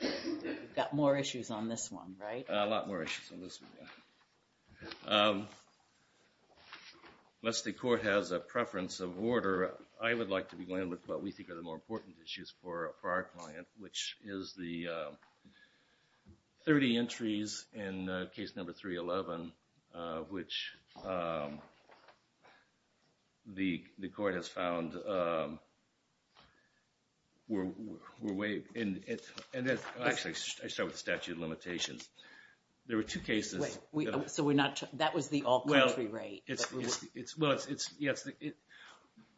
You've got more issues on this one, right? A lot more issues on this one, yeah. Unless the court has a preference of order, I would like to be going in with what we think are the more important issues for our client, which is the 30 entries in case number 311, which the court has found were way, and actually I start with the statute of limitations. There were two cases. Wait. So we're not, that was the all country rate. Well, it's, yes.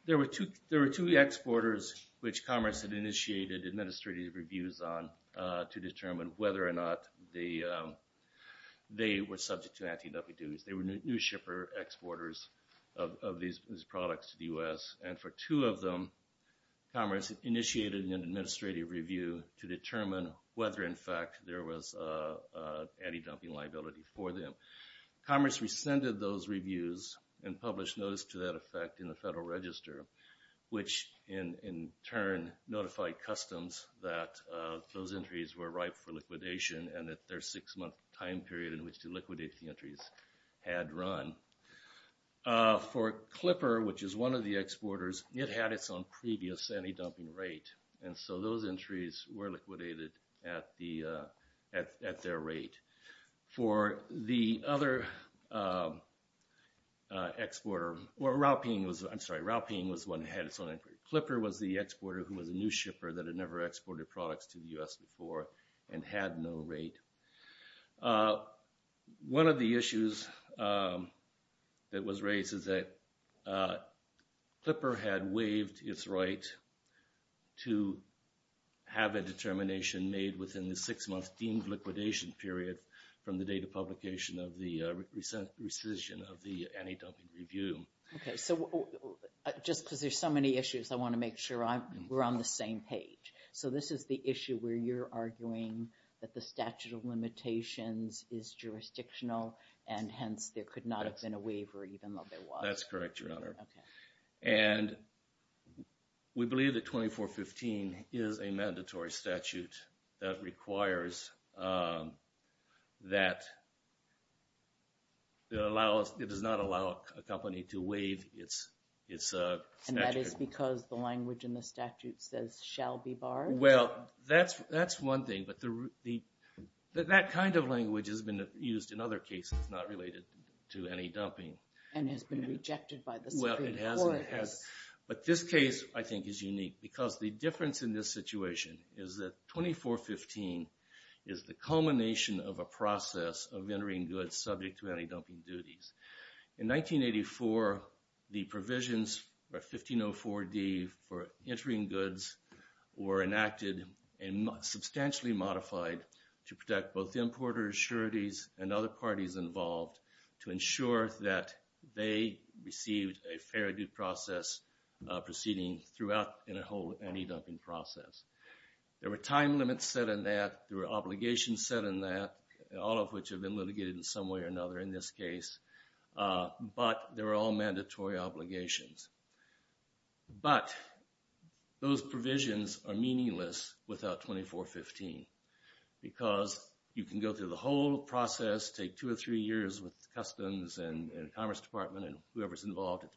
There were two exporters which Congress had initiated administrative reviews on to determine whether or not they were subject to anti-dumping duties. They were new shipper exporters of these products to the U.S. And for two of them, Congress initiated an administrative review to determine whether in fact there was anti-dumping liability for them. Commerce rescinded those reviews and published notice to that effect in the Federal Register, which in turn notified customs that those entries were ripe for liquidation and that their six month time period in which to liquidate the entries had run. For Clipper, which is one of the exporters, it had its own previous anti-dumping rate. And so those entries were liquidated at their rate. For the other exporter, well, Rauping was, I'm sorry, Rauping was the one that had its own entry. Clipper was the exporter who was a new shipper that had never exported products to the U.S. before and had no rate. One of the issues that was raised is that Clipper had waived its right to have a determination made within the six month deemed liquidation period from the date of publication of the rescission of the anti-dumping review. Okay, so just because there's so many issues, I want to make sure we're on the same page. So this is the issue where you're arguing that the statute of limitations is jurisdictional and hence there could not have been a waiver even though there was. That's correct, Your Honor. And we believe that 2415 is a mandatory statute that requires that it allows, it does not allow a company to waive its statute. And that is because the language in the statute says shall be barred? Well, that's one thing, but that kind of language has been used in other cases not related to any dumping. And has been rejected by the Supreme Court. Well, it has, but this case I think is unique because the difference in this situation is that 2415 is the culmination of a process of entering goods subject to anti-dumping duties. In 1984, the provisions of 1504D for entering goods were enacted and substantially modified to protect both importers, sureties, and other parties involved to ensure that they received a fair due process proceeding throughout in a whole anti-dumping process. There were time limits set in that, there were obligations set in that, all of which have been litigated in some way or another in this case. But they were all mandatory obligations. But those provisions are meaningless without 2415 because you can go through the whole process, take two or three years with Customs and Commerce Department and whoever's involved at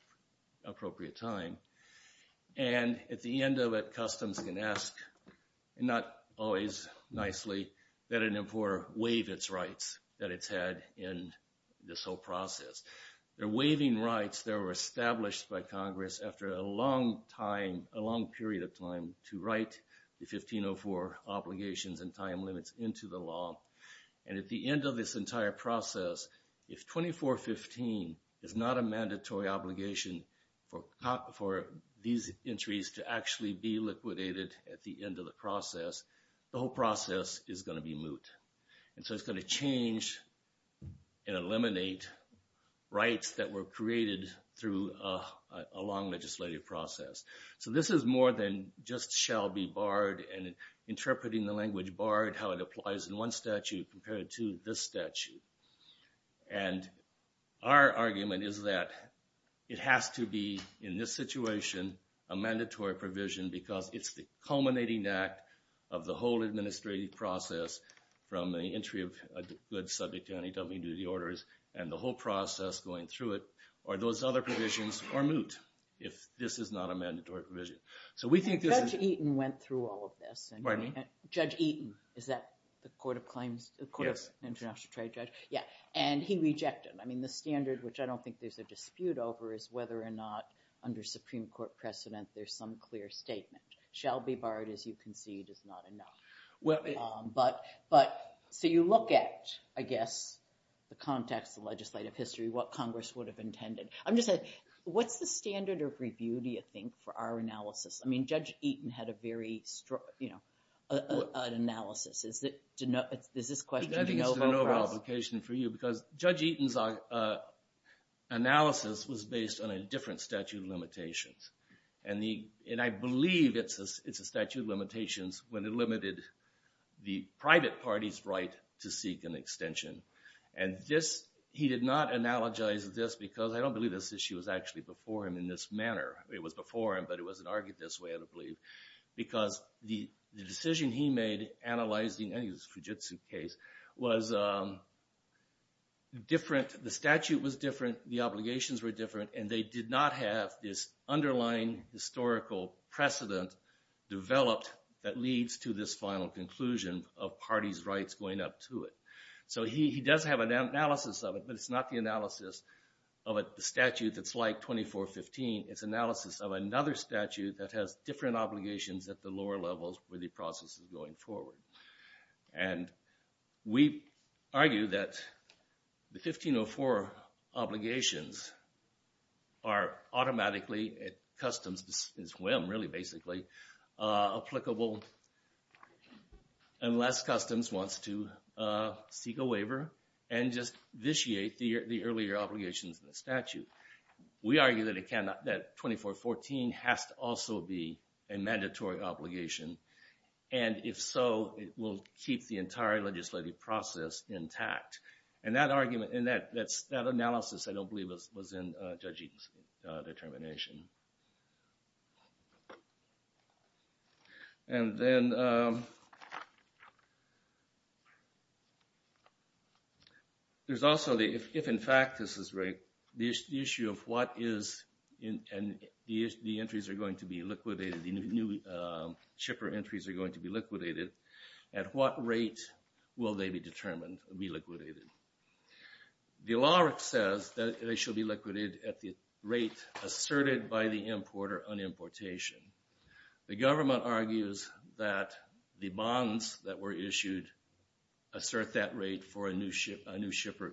the appropriate time, and at the end of it, Customs can ask, and not always nicely, that an importer waive its rights that it's had in this whole process. They're waiving rights that were established by Congress after a long time, a long period of time to write the 1504 obligations and time limits into the law. And at the end of this entire process, if 2415 is not a mandatory obligation for these entries to actually be liquidated at the end of the process, the whole process is going to be moot. And so it's going to change and eliminate rights that were created through a long legislative process. So this is more than just shall be barred and interpreting the language barred, how it applies in one statute compared to this statute. And our argument is that it has to be, in this situation, a mandatory provision because it's the culminating act of the whole administrative process from the entry of a good subject to any WD orders, and the whole process going through it, or those other provisions are moot if this is not a mandatory provision. So we think this is- Judge Eaton went through all of this. Pardon me? Judge Eaton. Is that the Court of International Trade Judge? Yes. Yeah. And he rejected. I mean, the standard, which I don't think there's a dispute over, is whether or not under Supreme Court precedent, there's some clear statement. Shall be barred, as you concede, is not enough. But so you look at, I guess, the context of legislative history, what Congress would have intended. I'm just saying, what's the standard of review, do you think, for our analysis? I mean, Judge Eaton had a very strong, you know, analysis. Is this question- I think it's an over-application for you because Judge Eaton's analysis was based on a different statute of limitations. And I believe it's a statute of limitations when it limited the private party's right to seek an extension. And this, he did not analogize this, because I don't believe this issue was actually before him in this manner. It was before him, but it wasn't argued this way, I believe. Because the decision he made analyzing, I think it was a Fujitsu case, was different. The statute was different. The obligations were different. And they did not have this underlying historical precedent developed that leads to this final conclusion of parties' rights going up to it. So he does have an analysis of it, but it's not the analysis of a statute that's like 2415. It's analysis of another statute that has different obligations at the lower levels where the process is going forward. And we argue that the 1504 obligations are automatically, at customs' whim, really, basically, applicable unless customs wants to seek a waiver and just vitiate the earlier obligations in the statute. We argue that 2414 has to also be a mandatory obligation. And if so, it will keep the entire legislative process intact. And that analysis, I don't believe, was in Judge Eaton's determination. And then there's also the, if in fact this is right, the issue of what is, and the entries are going to be liquidated, the new shipper entries are going to be liquidated. At what rate will they be determined, be liquidated? The law says that they should be liquidated at the rate asserted by the importer on importation. The government argues that the bonds that were issued assert that rate for a new shipper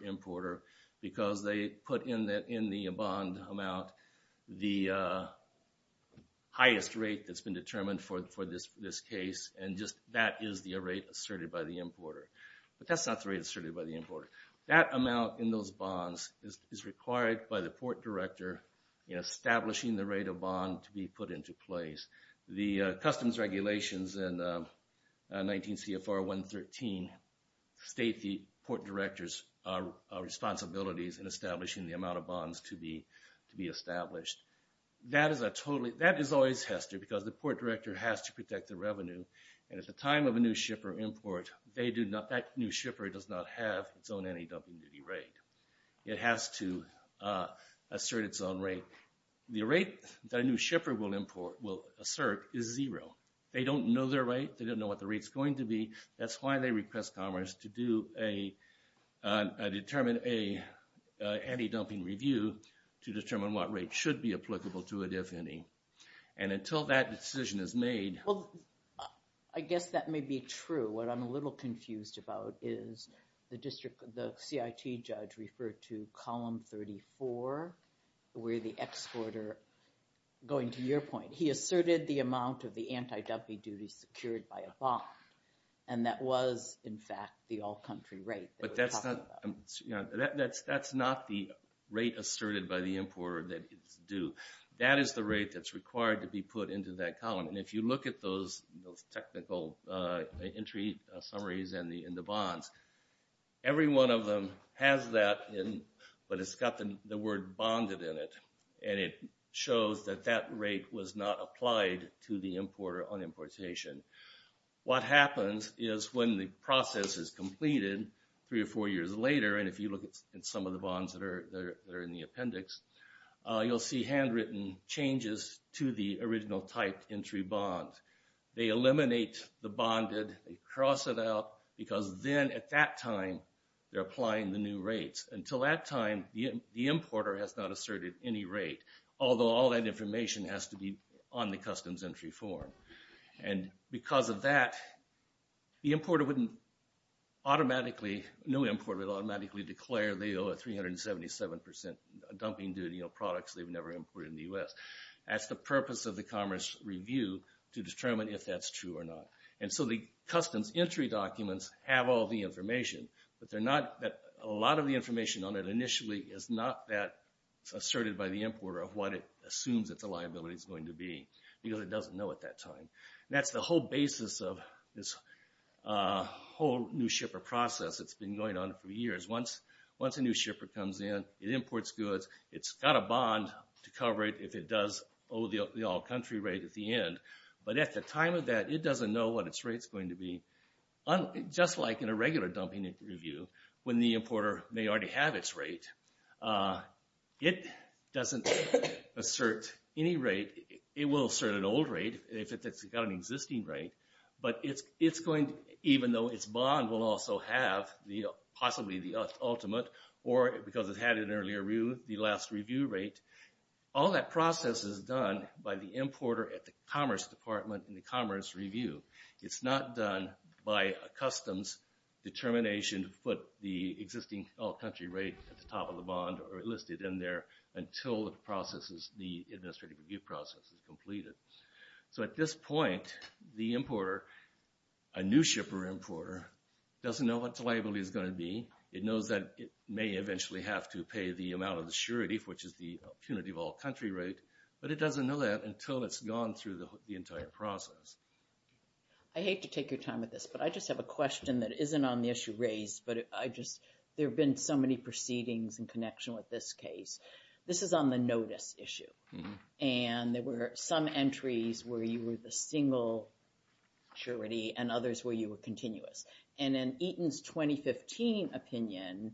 or importer because they put in the bond amount the highest rate that's been determined for this case, and just that is the rate asserted by the importer. But that's not the rate asserted by the importer. That amount in those bonds is required by the port director in establishing the rate of bond to be put into place. The customs regulations in 19 CFR 113 state the port director's responsibilities in establishing the amount of bonds to be established. That is a totally, that is always Hester because the port director has to protect the revenue. And at the time of a new shipper import, that new shipper does not have its own NAWD rate. It has to assert its own rate. The rate that a new shipper will assert is zero. They don't know their rate. They don't know what the rate's going to be. That's why they request commerce to do a, determine a anti-dumping review to determine what rate should be applicable to it, if any. And until that decision is made. Well, I guess that may be true. What I'm a little confused about is the district, the CIT judge referred to column 34, where the exporter, going to your point, he asserted the amount of the anti-dumping duties secured by a bond. And that was, in fact, the all country rate that we're talking about. That's not the rate asserted by the importer that is due. That is the rate that's required to be put into that column. And if you look at those technical entry summaries and the bonds, every one of them has that but it's got the word bonded in it. And it shows that that rate was not applied to the importer on importation. What happens is when the process is completed, three or four years later, and if you look at some of the bonds that are in the appendix, you'll see handwritten changes to the original type entry bond. They eliminate the bonded, they cross it out, because then at that time, they're applying the new rates. Until that time, the importer has not asserted any rate, although all that information has to be on the customs entry form. And because of that, the importer wouldn't automatically, no importer would automatically declare they owe a 377% dumping duty on products they've never imported in the U.S. That's the purpose of the Commerce Review, to determine if that's true or not. And so the customs entry documents have all the information, but a lot of the information on it initially is not that asserted by the importer of what it assumes that the liability is going to be, because it doesn't know at that time. That's the whole basis of this whole new shipper process that's been going on for years. Once a new shipper comes in, it imports goods, it's got a bond to cover it if it does owe the all-country rate at the end. But at the time of that, it doesn't know what its rate's going to be. Just like in a regular dumping review, when the importer may already have its rate, it doesn't assert any rate. It will assert an old rate if it's got an existing rate, but it's going to, even though its bond will also have possibly the ultimate, or because it had an earlier review, the last department in the Commerce Review, it's not done by a customs determination to put the existing all-country rate at the top of the bond or list it in there until the process is, the administrative review process is completed. So at this point, the importer, a new shipper importer, doesn't know what its liability is going to be. It knows that it may eventually have to pay the amount of the surety, which is the punitive all-country rate, but it doesn't know that until it's gone through the entire process. I hate to take your time with this, but I just have a question that isn't on the issue raised, but I just, there have been so many proceedings in connection with this case. This is on the notice issue, and there were some entries where you were the single surety and others where you were continuous. And in Eaton's 2015 opinion,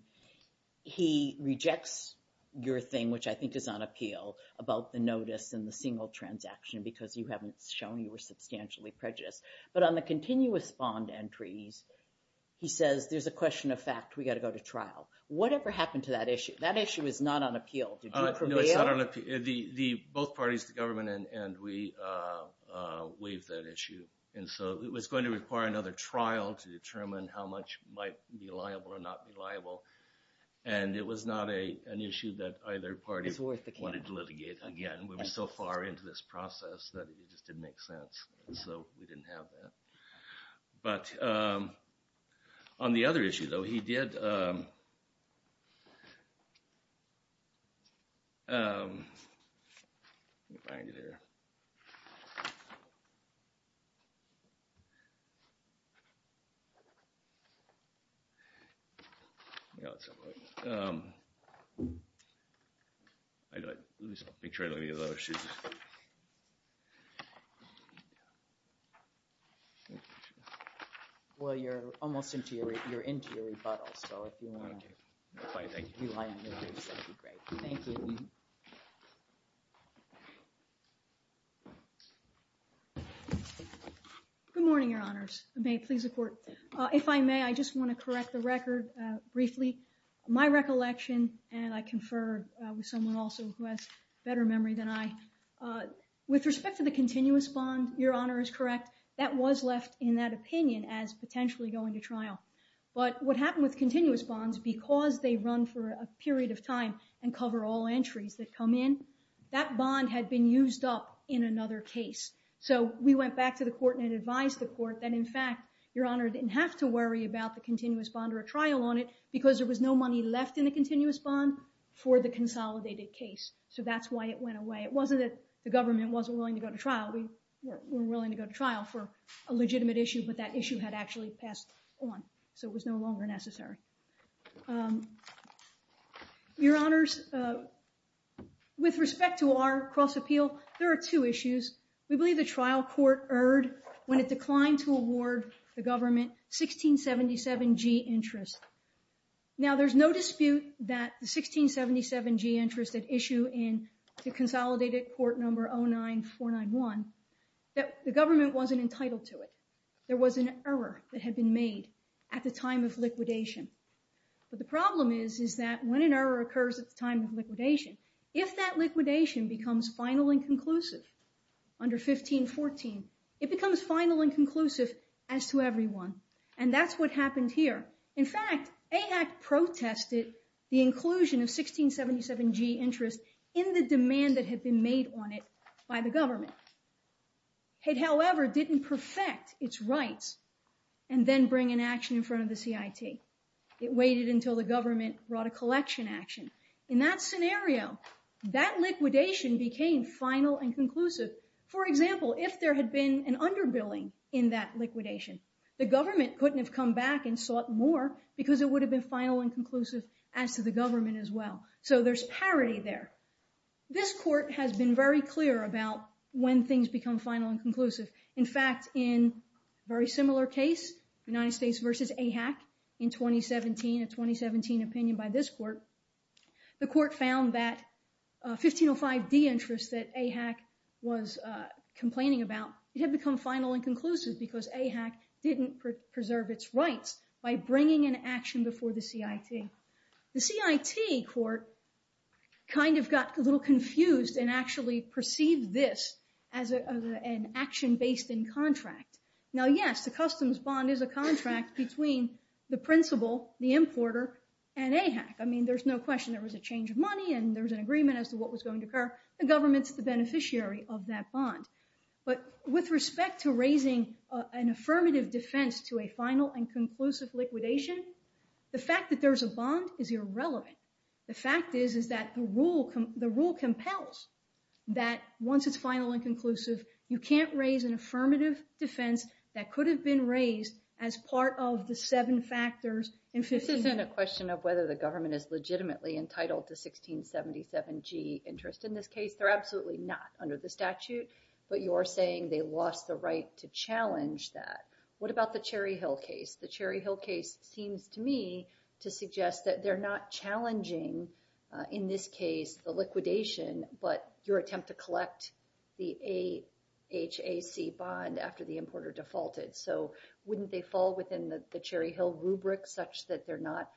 he rejects your thing, which I think is on appeal, about the notice and the single transaction, because you haven't shown you were substantially prejudiced. But on the continuous bond entries, he says there's a question of fact, we've got to go to trial. Whatever happened to that issue? That issue is not on appeal. Did you prevail? No, it's not on appeal. We had to go through another trial to determine how much might be liable or not be liable, and it was not an issue that either party wanted to litigate again. We were so far into this process that it just didn't make sense, so we didn't have that. But on the other issue, though, he did... Let me find it here. Let me try to look at the other issues. Well, you're almost into your rebuttal, so if you want to reply, that would be great. Thank you. Good morning, Your Honors. May it please the Court. If I may, I just want to correct the record briefly. My recollection, and I confer with someone also who has better memory than I, with respect to the continuous bond, Your Honor is correct, that was left in that opinion as potentially going to trial. But what happened with continuous bonds, because they run for a period of time and cover all entries that come in, that bond had been used up in another case. So we went back to the Court and advised the Court that, in fact, Your Honor didn't have to worry about the continuous bond or a trial on it because there was no money left in the continuous bond for the consolidated case. So that's why it went away. It wasn't that the government wasn't willing to go to trial. We were willing to go to trial for a legitimate issue, but that issue had actually passed on, so it was no longer necessary. Your Honors, with respect to our cross-appeal, there are two issues. We believe the trial court erred when it declined to award the government 1677G interest. Now, there's no dispute that the 1677G interest at issue in the consolidated court number 09491, that the government wasn't entitled to it. There was an error that had been made at the time of liquidation. But the problem is, is that when an error occurs at the time of liquidation, if that liquidation becomes final and conclusive under 1514, it becomes final and conclusive as to everyone, and that's what happened here. In fact, AHAC protested the inclusion of 1677G interest in the demand that had been made on it by the government. It, however, didn't perfect its rights and then bring an action in front of the CIT. It waited until the government brought a collection action. In that scenario, that liquidation became final and conclusive. For example, if there had been an underbilling in that liquidation, the government couldn't have come back and sought more because it would have been final and conclusive as to the government as well. So there's parity there. This court has been very clear about when things become final and conclusive. In fact, in a very similar case, the United States versus AHAC in 2017, a 2017 opinion by this court, the court found that 1505D interest that AHAC was complaining about, it had become final and conclusive because AHAC didn't preserve its rights by bringing an action before the CIT. The CIT court kind of got a little confused and actually perceived this as an action based in contract. Now, yes, the customs bond is a contract between the principal, the importer, and AHAC. I mean, there's no question there was a change of money and there was an agreement as to what was going to occur. The government's the beneficiary of that bond. But with respect to raising an affirmative defense to a final and conclusive liquidation, the fact that there's a bond is irrelevant. The fact is that the rule compels that once it's final and conclusive, you can't raise an affirmative defense that could have been raised as part of the seven factors. This isn't a question of whether the government is legitimately entitled to 1677G interest in this case. They're absolutely not under the statute. But you're saying they lost the right to challenge that. What about the Cherry Hill case? The Cherry Hill case seems to me to suggest that they're not challenging, in this case, the liquidation, but your attempt to collect the AHAC bond after the importer defaulted. So wouldn't they fall within the Cherry Hill rubric such that they're not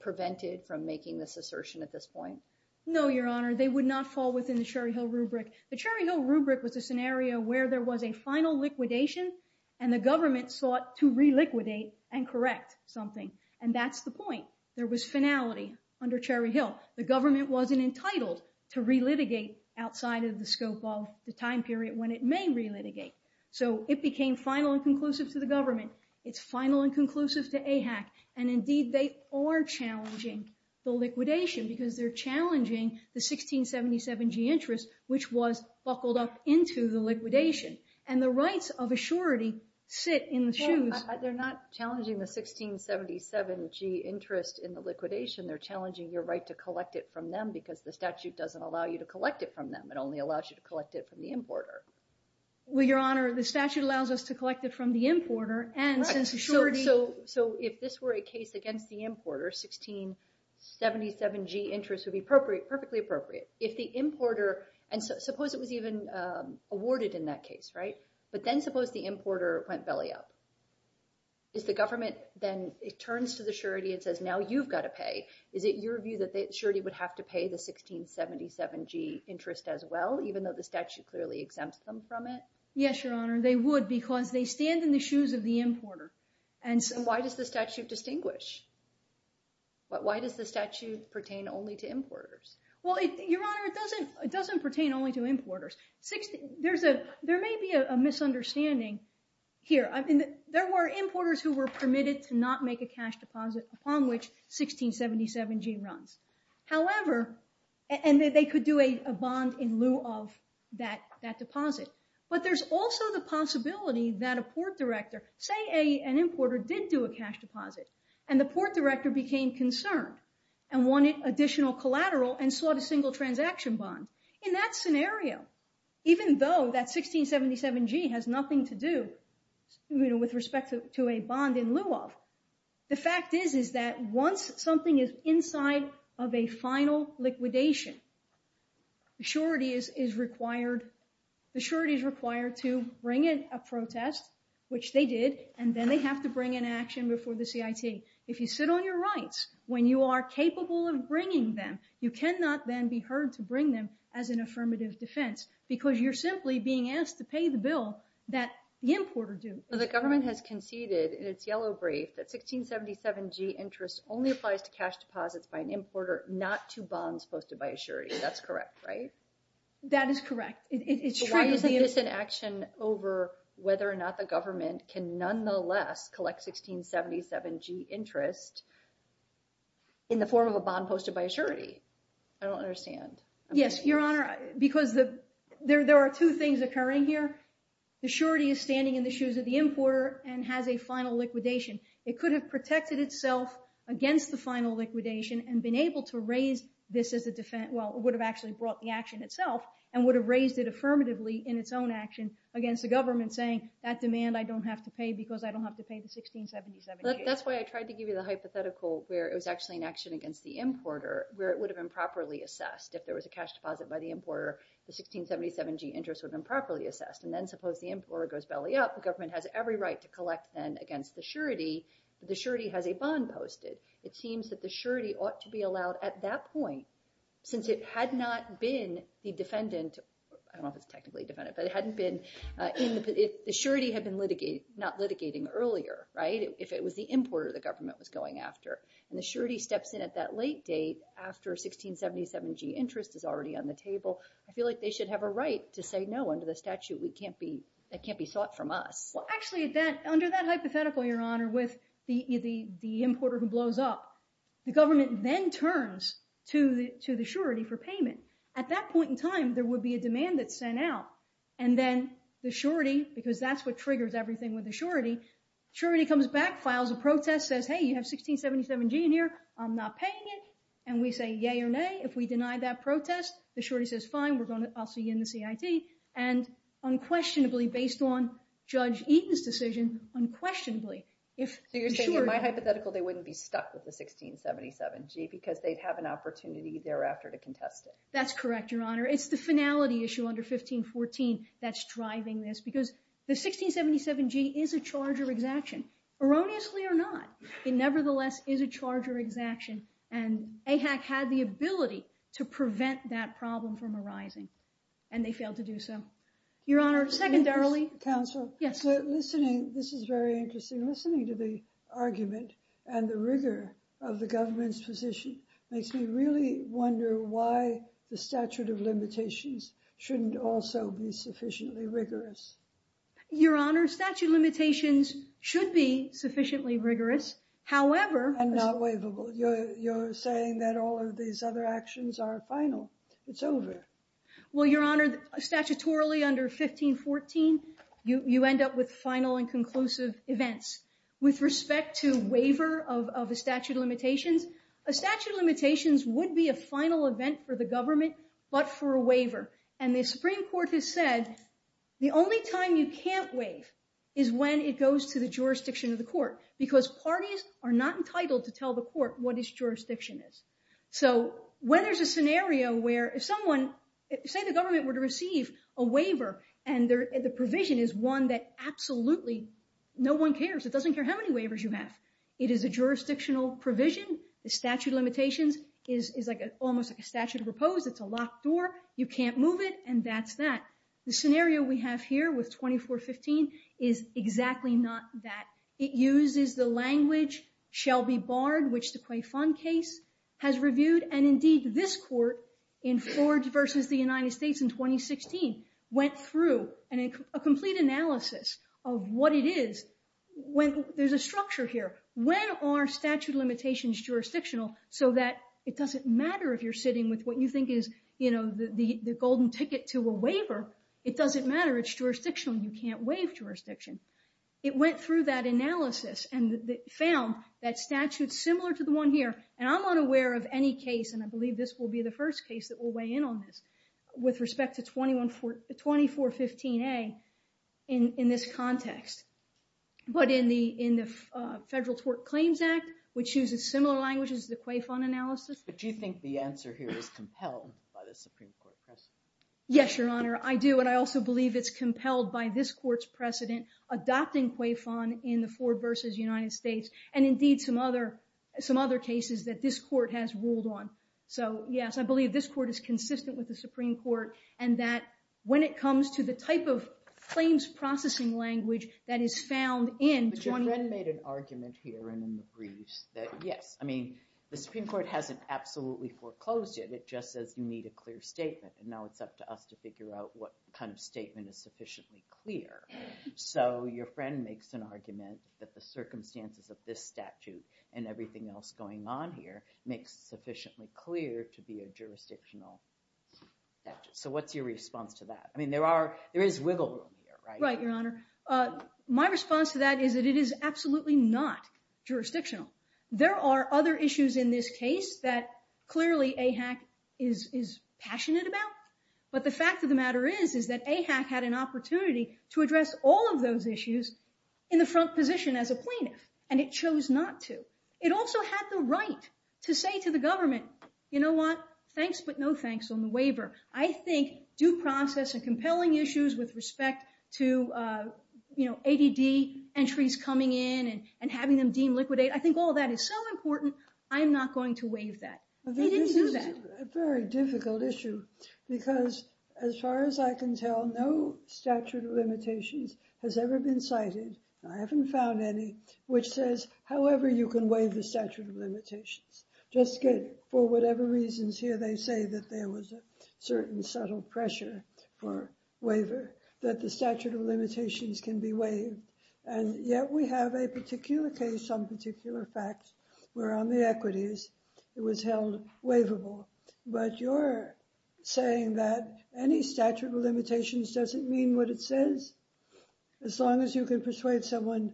prevented from making this assertion at this point? No, Your Honor. They would not fall within the Cherry Hill rubric. The Cherry Hill rubric was a scenario where there was a final liquidation and the government sought to reliquidate and correct something. And that's the point. There was finality under Cherry Hill. The government wasn't entitled to relitigate outside of the scope of the time period when it may relitigate. So it became final and conclusive to the government. It's final and conclusive to AHAC. And indeed, they are challenging the liquidation because they're challenging the 1677G interest, which was buckled up into the liquidation. And the rights of assurity sit in the shoes. They're not challenging the 1677G interest in the liquidation. They're challenging your right to collect it from them because the statute doesn't allow you to collect it from them. It only allows you to collect it from the importer. Right. So if this were a case against the importer, 1677G interest would be perfectly appropriate. And suppose it was even awarded in that case, right? But then suppose the importer went belly up. If the government then turns to the surety and says, now you've got to pay, is it your view that the surety would have to pay the 1677G interest as well, even though the statute clearly exempts them from it? Yes, Your Honor. They would because they stand in the shoes of the importer. And why does the statute distinguish? Why does the statute pertain only to importers? Well, Your Honor, it doesn't pertain only to importers. There may be a misunderstanding here. There were importers who were permitted to not make a cash deposit upon which 1677G runs. However, and they could do a bond in lieu of that deposit. But there's also the possibility that a port director, say an importer did do a cash deposit and the port director became concerned and wanted additional collateral and sought a single transaction bond. In that scenario, even though that 1677G has nothing to do with respect to a bond in lieu of, the fact is, is that once something is inside of a final liquidation, the surety is required to bring in a protest, which they did, and then they have to bring in action before the CIT. If you sit on your rights, when you are capable of bringing them, you cannot then be heard to bring them as an affirmative defense because you're simply being asked to pay the bill that the importer did. The government has conceded in its yellow brief that 1677G interest only applies to cash deposits by an importer, not to bonds posted by a surety. That's correct, right? That is correct. It's true. Why is the innocent action over whether or not the government can nonetheless collect 1677G interest in the form of a bond posted by a surety? I don't understand. Yes, Your Honor, because there are two things occurring here. The surety is standing in the shoes of the importer and has a final liquidation. It could have protected itself against the final liquidation and been able to raise this as a defense, well, it would have actually brought the action itself and would have raised it affirmatively in its own action against the government saying that demand I don't have to pay because I don't have to pay the 1677G. That's why I tried to give you the hypothetical where it was actually an action against the importer where it would have been properly assessed. If there was a cash deposit by the importer, the 1677G interest would have been properly assessed. And then suppose the importer goes belly up, the government has every right to collect then against the surety, but the surety has a bond posted. It seems that the surety ought to be allowed at that point since it had not been the defendant, I don't know if it's technically a defendant, but it hadn't been, the surety had been not litigating earlier, right, if it was the importer the government was going after. And the surety steps in at that late date after 1677G interest is already on the table. I feel like they should have a right to say no under the statute. It can't be sought from us. Well, actually, under that hypothetical, Your Honor, with the importer who blows up, the government then turns to the surety for payment. At that point in time, there would be a demand that's sent out, and then the surety, because that's what triggers everything with the surety, the surety comes back, files a protest, says, hey, you have 1677G in here, I'm not paying it. And we say, yay or nay, if we deny that protest, the surety says, fine, I'll see you in the I'll eat this decision unquestionably. So you're saying, in my hypothetical, they wouldn't be stuck with the 1677G, because they'd have an opportunity thereafter to contest it. That's correct, Your Honor. It's the finality issue under 1514 that's driving this, because the 1677G is a charge or exaction. Erroneously or not, it nevertheless is a charge or exaction. And AHAC had the ability to prevent that problem from arising, and they failed to do so. Your Honor, secondarily. Counsel. Yes. So listening, this is very interesting, listening to the argument and the rigor of the government's position makes me really wonder why the statute of limitations shouldn't also be sufficiently rigorous. Your Honor, statute of limitations should be sufficiently rigorous. However. And not waivable. You're saying that all of these other actions are final. It's over. Well, Your Honor, statutorily under 1514, you end up with final and conclusive events. With respect to waiver of a statute of limitations, a statute of limitations would be a final event for the government, but for a waiver. And the Supreme Court has said, the only time you can't waive is when it goes to the jurisdiction of the court, because parties are not entitled to tell the court what its jurisdiction is. So when there's a scenario where if someone, say the government were to receive a waiver, and the provision is one that absolutely no one cares. It doesn't care how many waivers you have. It is a jurisdictional provision. The statute of limitations is almost like a statute of repose. It's a locked door. You can't move it, and that's that. The scenario we have here with 2415 is exactly not that. It uses the language, shall be barred, which the Quay Fund case has reviewed. And indeed, this court in Forge versus the United States in 2016 went through a complete analysis of what it is. There's a structure here. When are statute of limitations jurisdictional so that it doesn't matter if you're sitting with what you think is the golden ticket to a waiver. It doesn't matter. It's jurisdictional. You can't waive jurisdiction. It went through that analysis and found that statute similar to the one here. And I'm unaware of any case, and I believe this will be the first case that we'll weigh in on this, with respect to 2415A in this context. But in the Federal Tort Claims Act, which uses similar language as the Quay Fund analysis. But do you think the answer here is compelled by the Supreme Court precedent? Yes, Your Honor, I do. But I also believe it's compelled by this court's precedent adopting Quay Fund in the Forge versus United States and, indeed, some other cases that this court has ruled on. So, yes, I believe this court is consistent with the Supreme Court and that when it comes to the type of claims processing language that is found in 20- But your friend made an argument here and in the briefs that, yes, I mean, the Supreme Court hasn't absolutely foreclosed it. It just says you need a clear statement. And now it's up to us to figure out what kind of statement is sufficiently clear. So your friend makes an argument that the circumstances of this statute and everything else going on here makes it sufficiently clear to be a jurisdictional statute. So what's your response to that? I mean, there is wiggle room here, right? Right, Your Honor. My response to that is that it is absolutely not jurisdictional. There are other issues in this case that clearly AHAC is passionate about. But the fact of the matter is is that AHAC had an opportunity to address all of those issues in the front position as a plaintiff, and it chose not to. It also had the right to say to the government, you know what, thanks but no thanks on the waiver. I think due process and compelling issues with respect to, you know, ADD entries coming in and having them deemed liquidate, I think all that is so important, I am not going to waive that. They didn't do that. This is a very difficult issue because as far as I can tell, no statute of limitations has ever been cited. I haven't found any which says however you can waive the statute of limitations. Just for whatever reasons here they say that there was a certain subtle pressure for waiver that the statute of limitations can be waived. And yet we have a particular case on particular facts where on the equities it was held waivable. But you're saying that any statute of limitations doesn't mean what it says? As long as you can persuade someone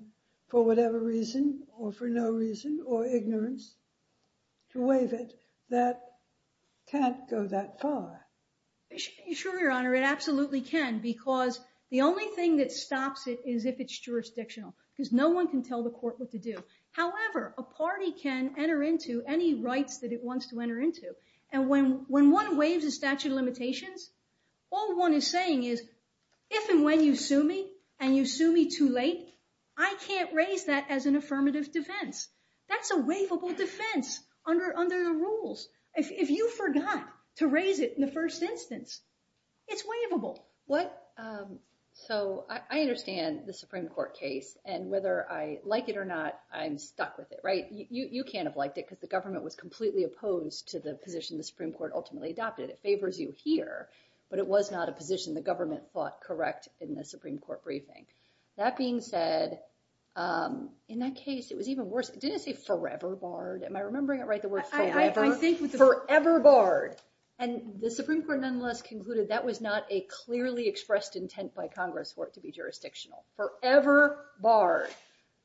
for whatever reason or for no reason or ignorance to waive it, that can't go that far. Sure, Your Honor, it absolutely can because the only thing that stops it is if it's jurisdictional because no one can tell the court what to do. However, a party can enter into any rights that it wants to enter into. And when one waives a statute of limitations, all one is saying is if and when you sue me and you sue me too late, I can't raise that as an affirmative defense. That's a waivable defense under the rules. If you forgot to raise it in the first instance, it's waivable. So I understand the Supreme Court case. And whether I like it or not, I'm stuck with it, right? You can't have liked it because the government was completely opposed to the position the Supreme Court ultimately adopted. It favors you here, but it was not a position the government thought correct in the Supreme Court briefing. That being said, in that case, it was even worse. It didn't say forever barred. Am I remembering it right, the word forever? Forever barred. And the Supreme Court nonetheless concluded that was not a clearly expressed intent by Congress for it to be jurisdictional. Forever barred.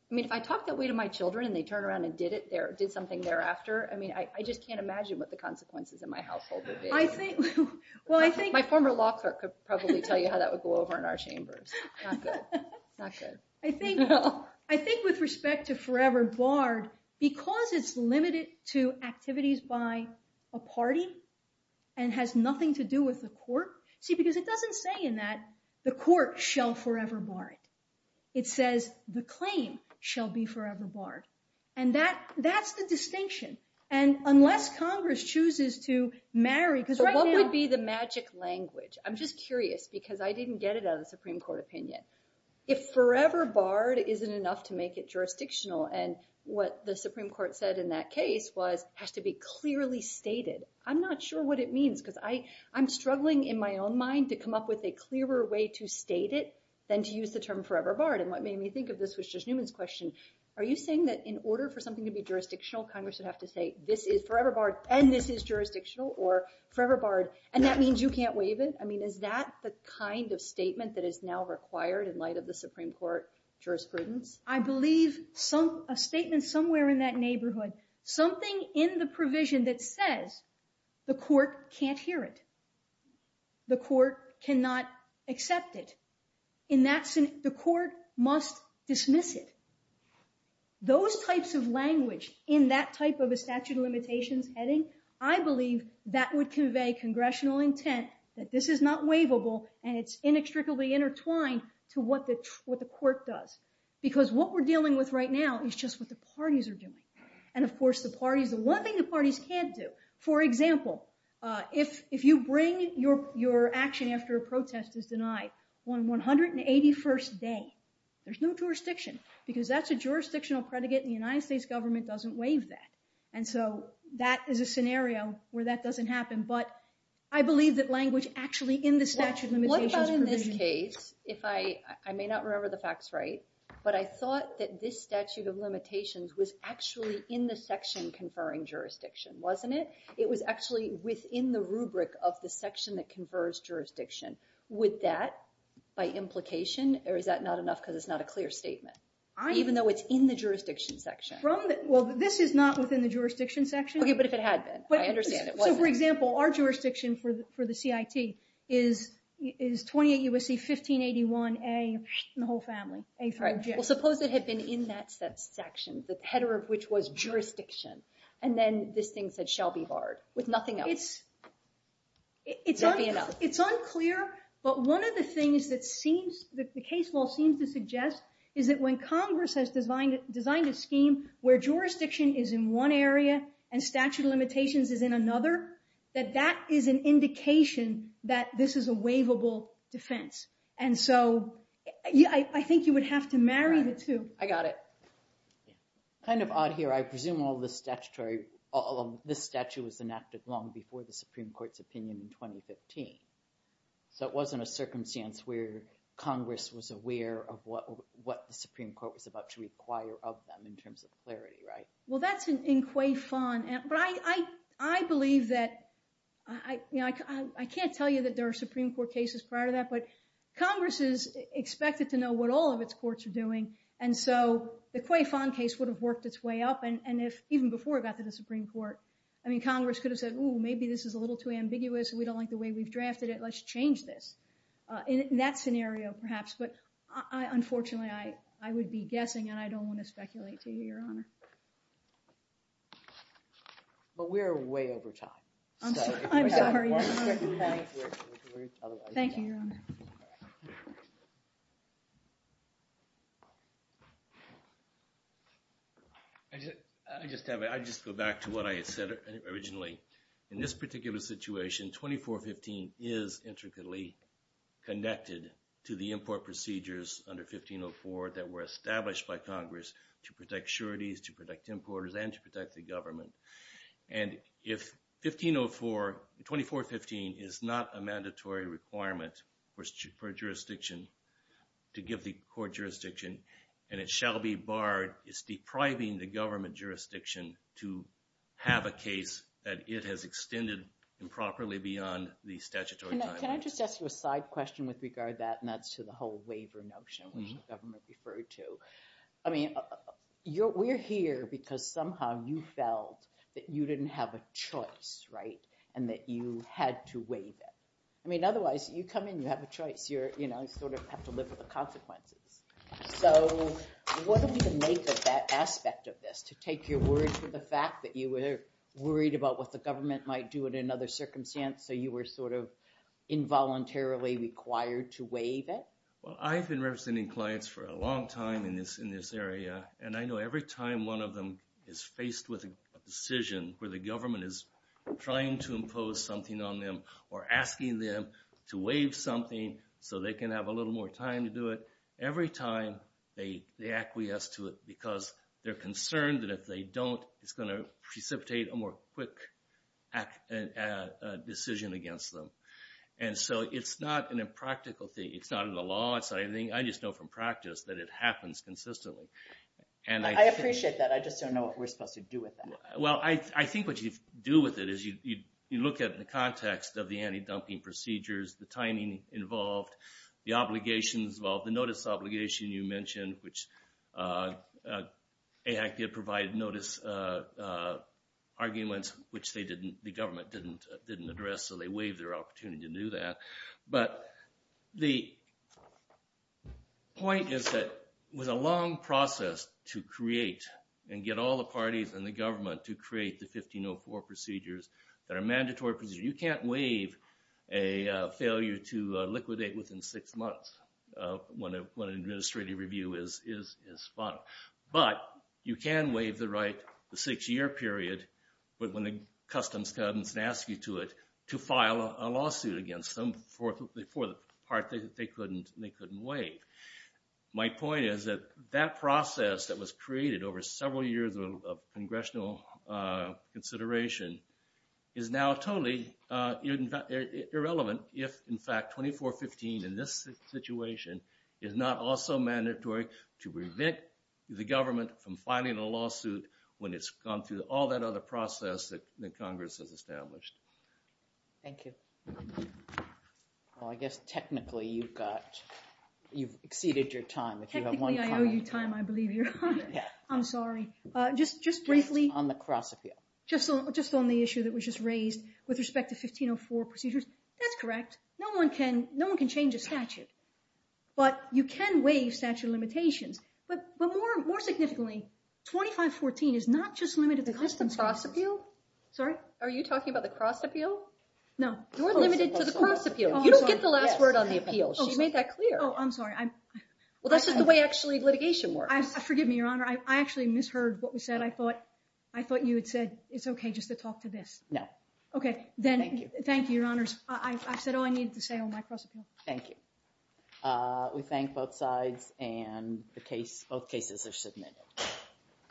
I mean, if I talk that way to my children and they turn around and did something thereafter, I mean, I just can't imagine what the consequences in my household would be. My former law clerk could probably tell you how that would go over in our chambers. Not good. Not good. I think with respect to forever barred, because it's limited to activities by a party and has nothing to do with the court, see, because it doesn't say in that the court shall forever bar it. It says the claim shall be forever barred. And that's the distinction. And unless Congress chooses to marry, because right now- So what would be the magic language? I'm just curious because I didn't get it out of the Supreme Court opinion. If forever barred isn't enough to make it jurisdictional, and what the Supreme Court said in that case was it has to be clearly stated, I'm not sure what it means because I'm struggling in my own mind to come up with a clearer way to state it than to use the term forever barred. And what made me think of this was just Newman's question. Are you saying that in order for something to be jurisdictional, Congress would have to say this is forever barred and this is jurisdictional or forever barred, and that means you can't waive it? I mean, is that the kind of statement that is now required in light of the Supreme Court jurisprudence? I believe a statement somewhere in that neighborhood, something in the provision that says the court can't hear it, the court cannot accept it, the court must dismiss it. Those types of language in that type of a statute of limitations heading, I believe that would convey congressional intent that this is not waivable and it's inextricably intertwined to what the court does. Because what we're dealing with right now is just what the parties are doing. And of course the parties, the one thing the parties can't do, for example, if you bring your action after a protest is denied, on 181st day, there's no jurisdiction because that's a jurisdictional predicate and the United States government doesn't waive that. And so that is a scenario where that doesn't happen, but I believe that language actually in the statute of limitations provision. What about in this case, I may not remember the facts right, but I thought that this statute of limitations was actually in the section conferring jurisdiction, wasn't it? It was actually within the rubric of the section that confers jurisdiction. Would that, by implication, or is that not enough because it's not a clear statement? Even though it's in the jurisdiction section. Well, this is not within the jurisdiction section. Okay, but if it had been, I understand it wasn't. So, for example, our jurisdiction for the CIT is 28 U.S.C. 1581A, and the whole family, A through J. Well, suppose it had been in that section, the header of which was jurisdiction, and then this thing said shall be barred with nothing else. It's unclear, but one of the things that the case law seems to suggest is that when Congress has designed a scheme where jurisdiction is in one area and statute of limitations is in another, that that is an indication that this is a waivable defense. And so, I think you would have to marry the two. I got it. Kind of odd here. I presume all this statute was enacted long before the Supreme Court's opinion in 2015. So, it wasn't a circumstance where Congress was aware of what the Supreme Court was about to require of them in terms of clarity, right? Well, that's in Quay-Fon, but I believe that, you know, I can't tell you that there are Supreme Court cases prior to that, but Congress is expected to know what all of its courts are doing, and so the Quay-Fon case would have worked its way up, and if even before it got to the Supreme Court, I mean, Congress could have said, oh, maybe this is a little too ambiguous, we don't like the way we've drafted it, let's change this. In that scenario, perhaps, but unfortunately, I would be guessing, and I don't want to speculate to you, Your Honor. But we're way over time. Thank you, Your Honor. I just go back to what I had said originally. In this particular situation, 2415 is intricately connected to the import procedures under 1504 that were established by Congress to protect sureties, to protect importers, and to protect the government. And if 1504, 2415 is not a mandatory requirement for jurisdiction, to give the court jurisdiction, and it shall be barred, it's depriving the government jurisdiction to have a case that it has extended improperly beyond the statutory timeline. Can I just ask you a side question with regard to that, and that's to the whole waiver notion, which the government referred to. I mean, we're here because somehow you felt that you didn't have a choice, right, and that you had to waive it. I mean, otherwise, you come in, you have a choice. You sort of have to live with the consequences. So what are we to make of that aspect of this, to take your word for the fact that you were worried about what the government might do in another circumstance, so you were sort of involuntarily required to waive it? Well, I've been representing clients for a long time in this area, and I know every time one of them is faced with a decision where the government is trying to impose something on them or asking them to waive something so they can have a little more time to do it, every time they acquiesce to it because they're concerned that if they don't, it's going to precipitate a more quick decision against them. And so it's not an impractical thing. It's not in the law. It's not anything. I just know from practice that it happens consistently. I appreciate that. I just don't know what we're supposed to do with that. Well, I think what you do with it is you look at the context of the anti-dumping procedures, the timing involved, the obligations involved, the notice obligation you mentioned, which AIPHA provided notice arguments which the government didn't address, so they waived their opportunity to do that. But the point is that it was a long process to create and get all the parties and the government to create the 1504 procedures that are mandatory procedures. You can't waive a failure to liquidate within six months when an administrative review is filed. But you can waive the right, the six-year period, but when the customs comes and asks you to file a lawsuit against them for the part that they couldn't waive. My point is that that process that was created over several years of congressional consideration is now totally irrelevant if, in fact, 2415 in this situation is not also mandatory to prevent the government from filing a lawsuit when it's gone through all that other process that Congress has established. Thank you. Well, I guess technically you've exceeded your time. Technically, I owe you time, I believe you're right. I'm sorry. Just briefly on the issue that was just raised with respect to 1504 procedures, that's correct. No one can change a statute. But you can waive statute of limitations. But more significantly, 2514 is not just limited to customs cases. Is this the cross appeal? Sorry? Are you talking about the cross appeal? No. You're limited to the cross appeal. You don't get the last word on the appeal. She made that clear. Oh, I'm sorry. Well, that's just the way, actually, litigation works. Forgive me, Your Honor. I actually misheard what was said. I thought you had said it's okay just to talk to this. No. Okay, then. Thank you. Thank you, Your Honors. I said all I needed to say on my cross appeal. Thank you. We thank both sides, and both cases are submitted.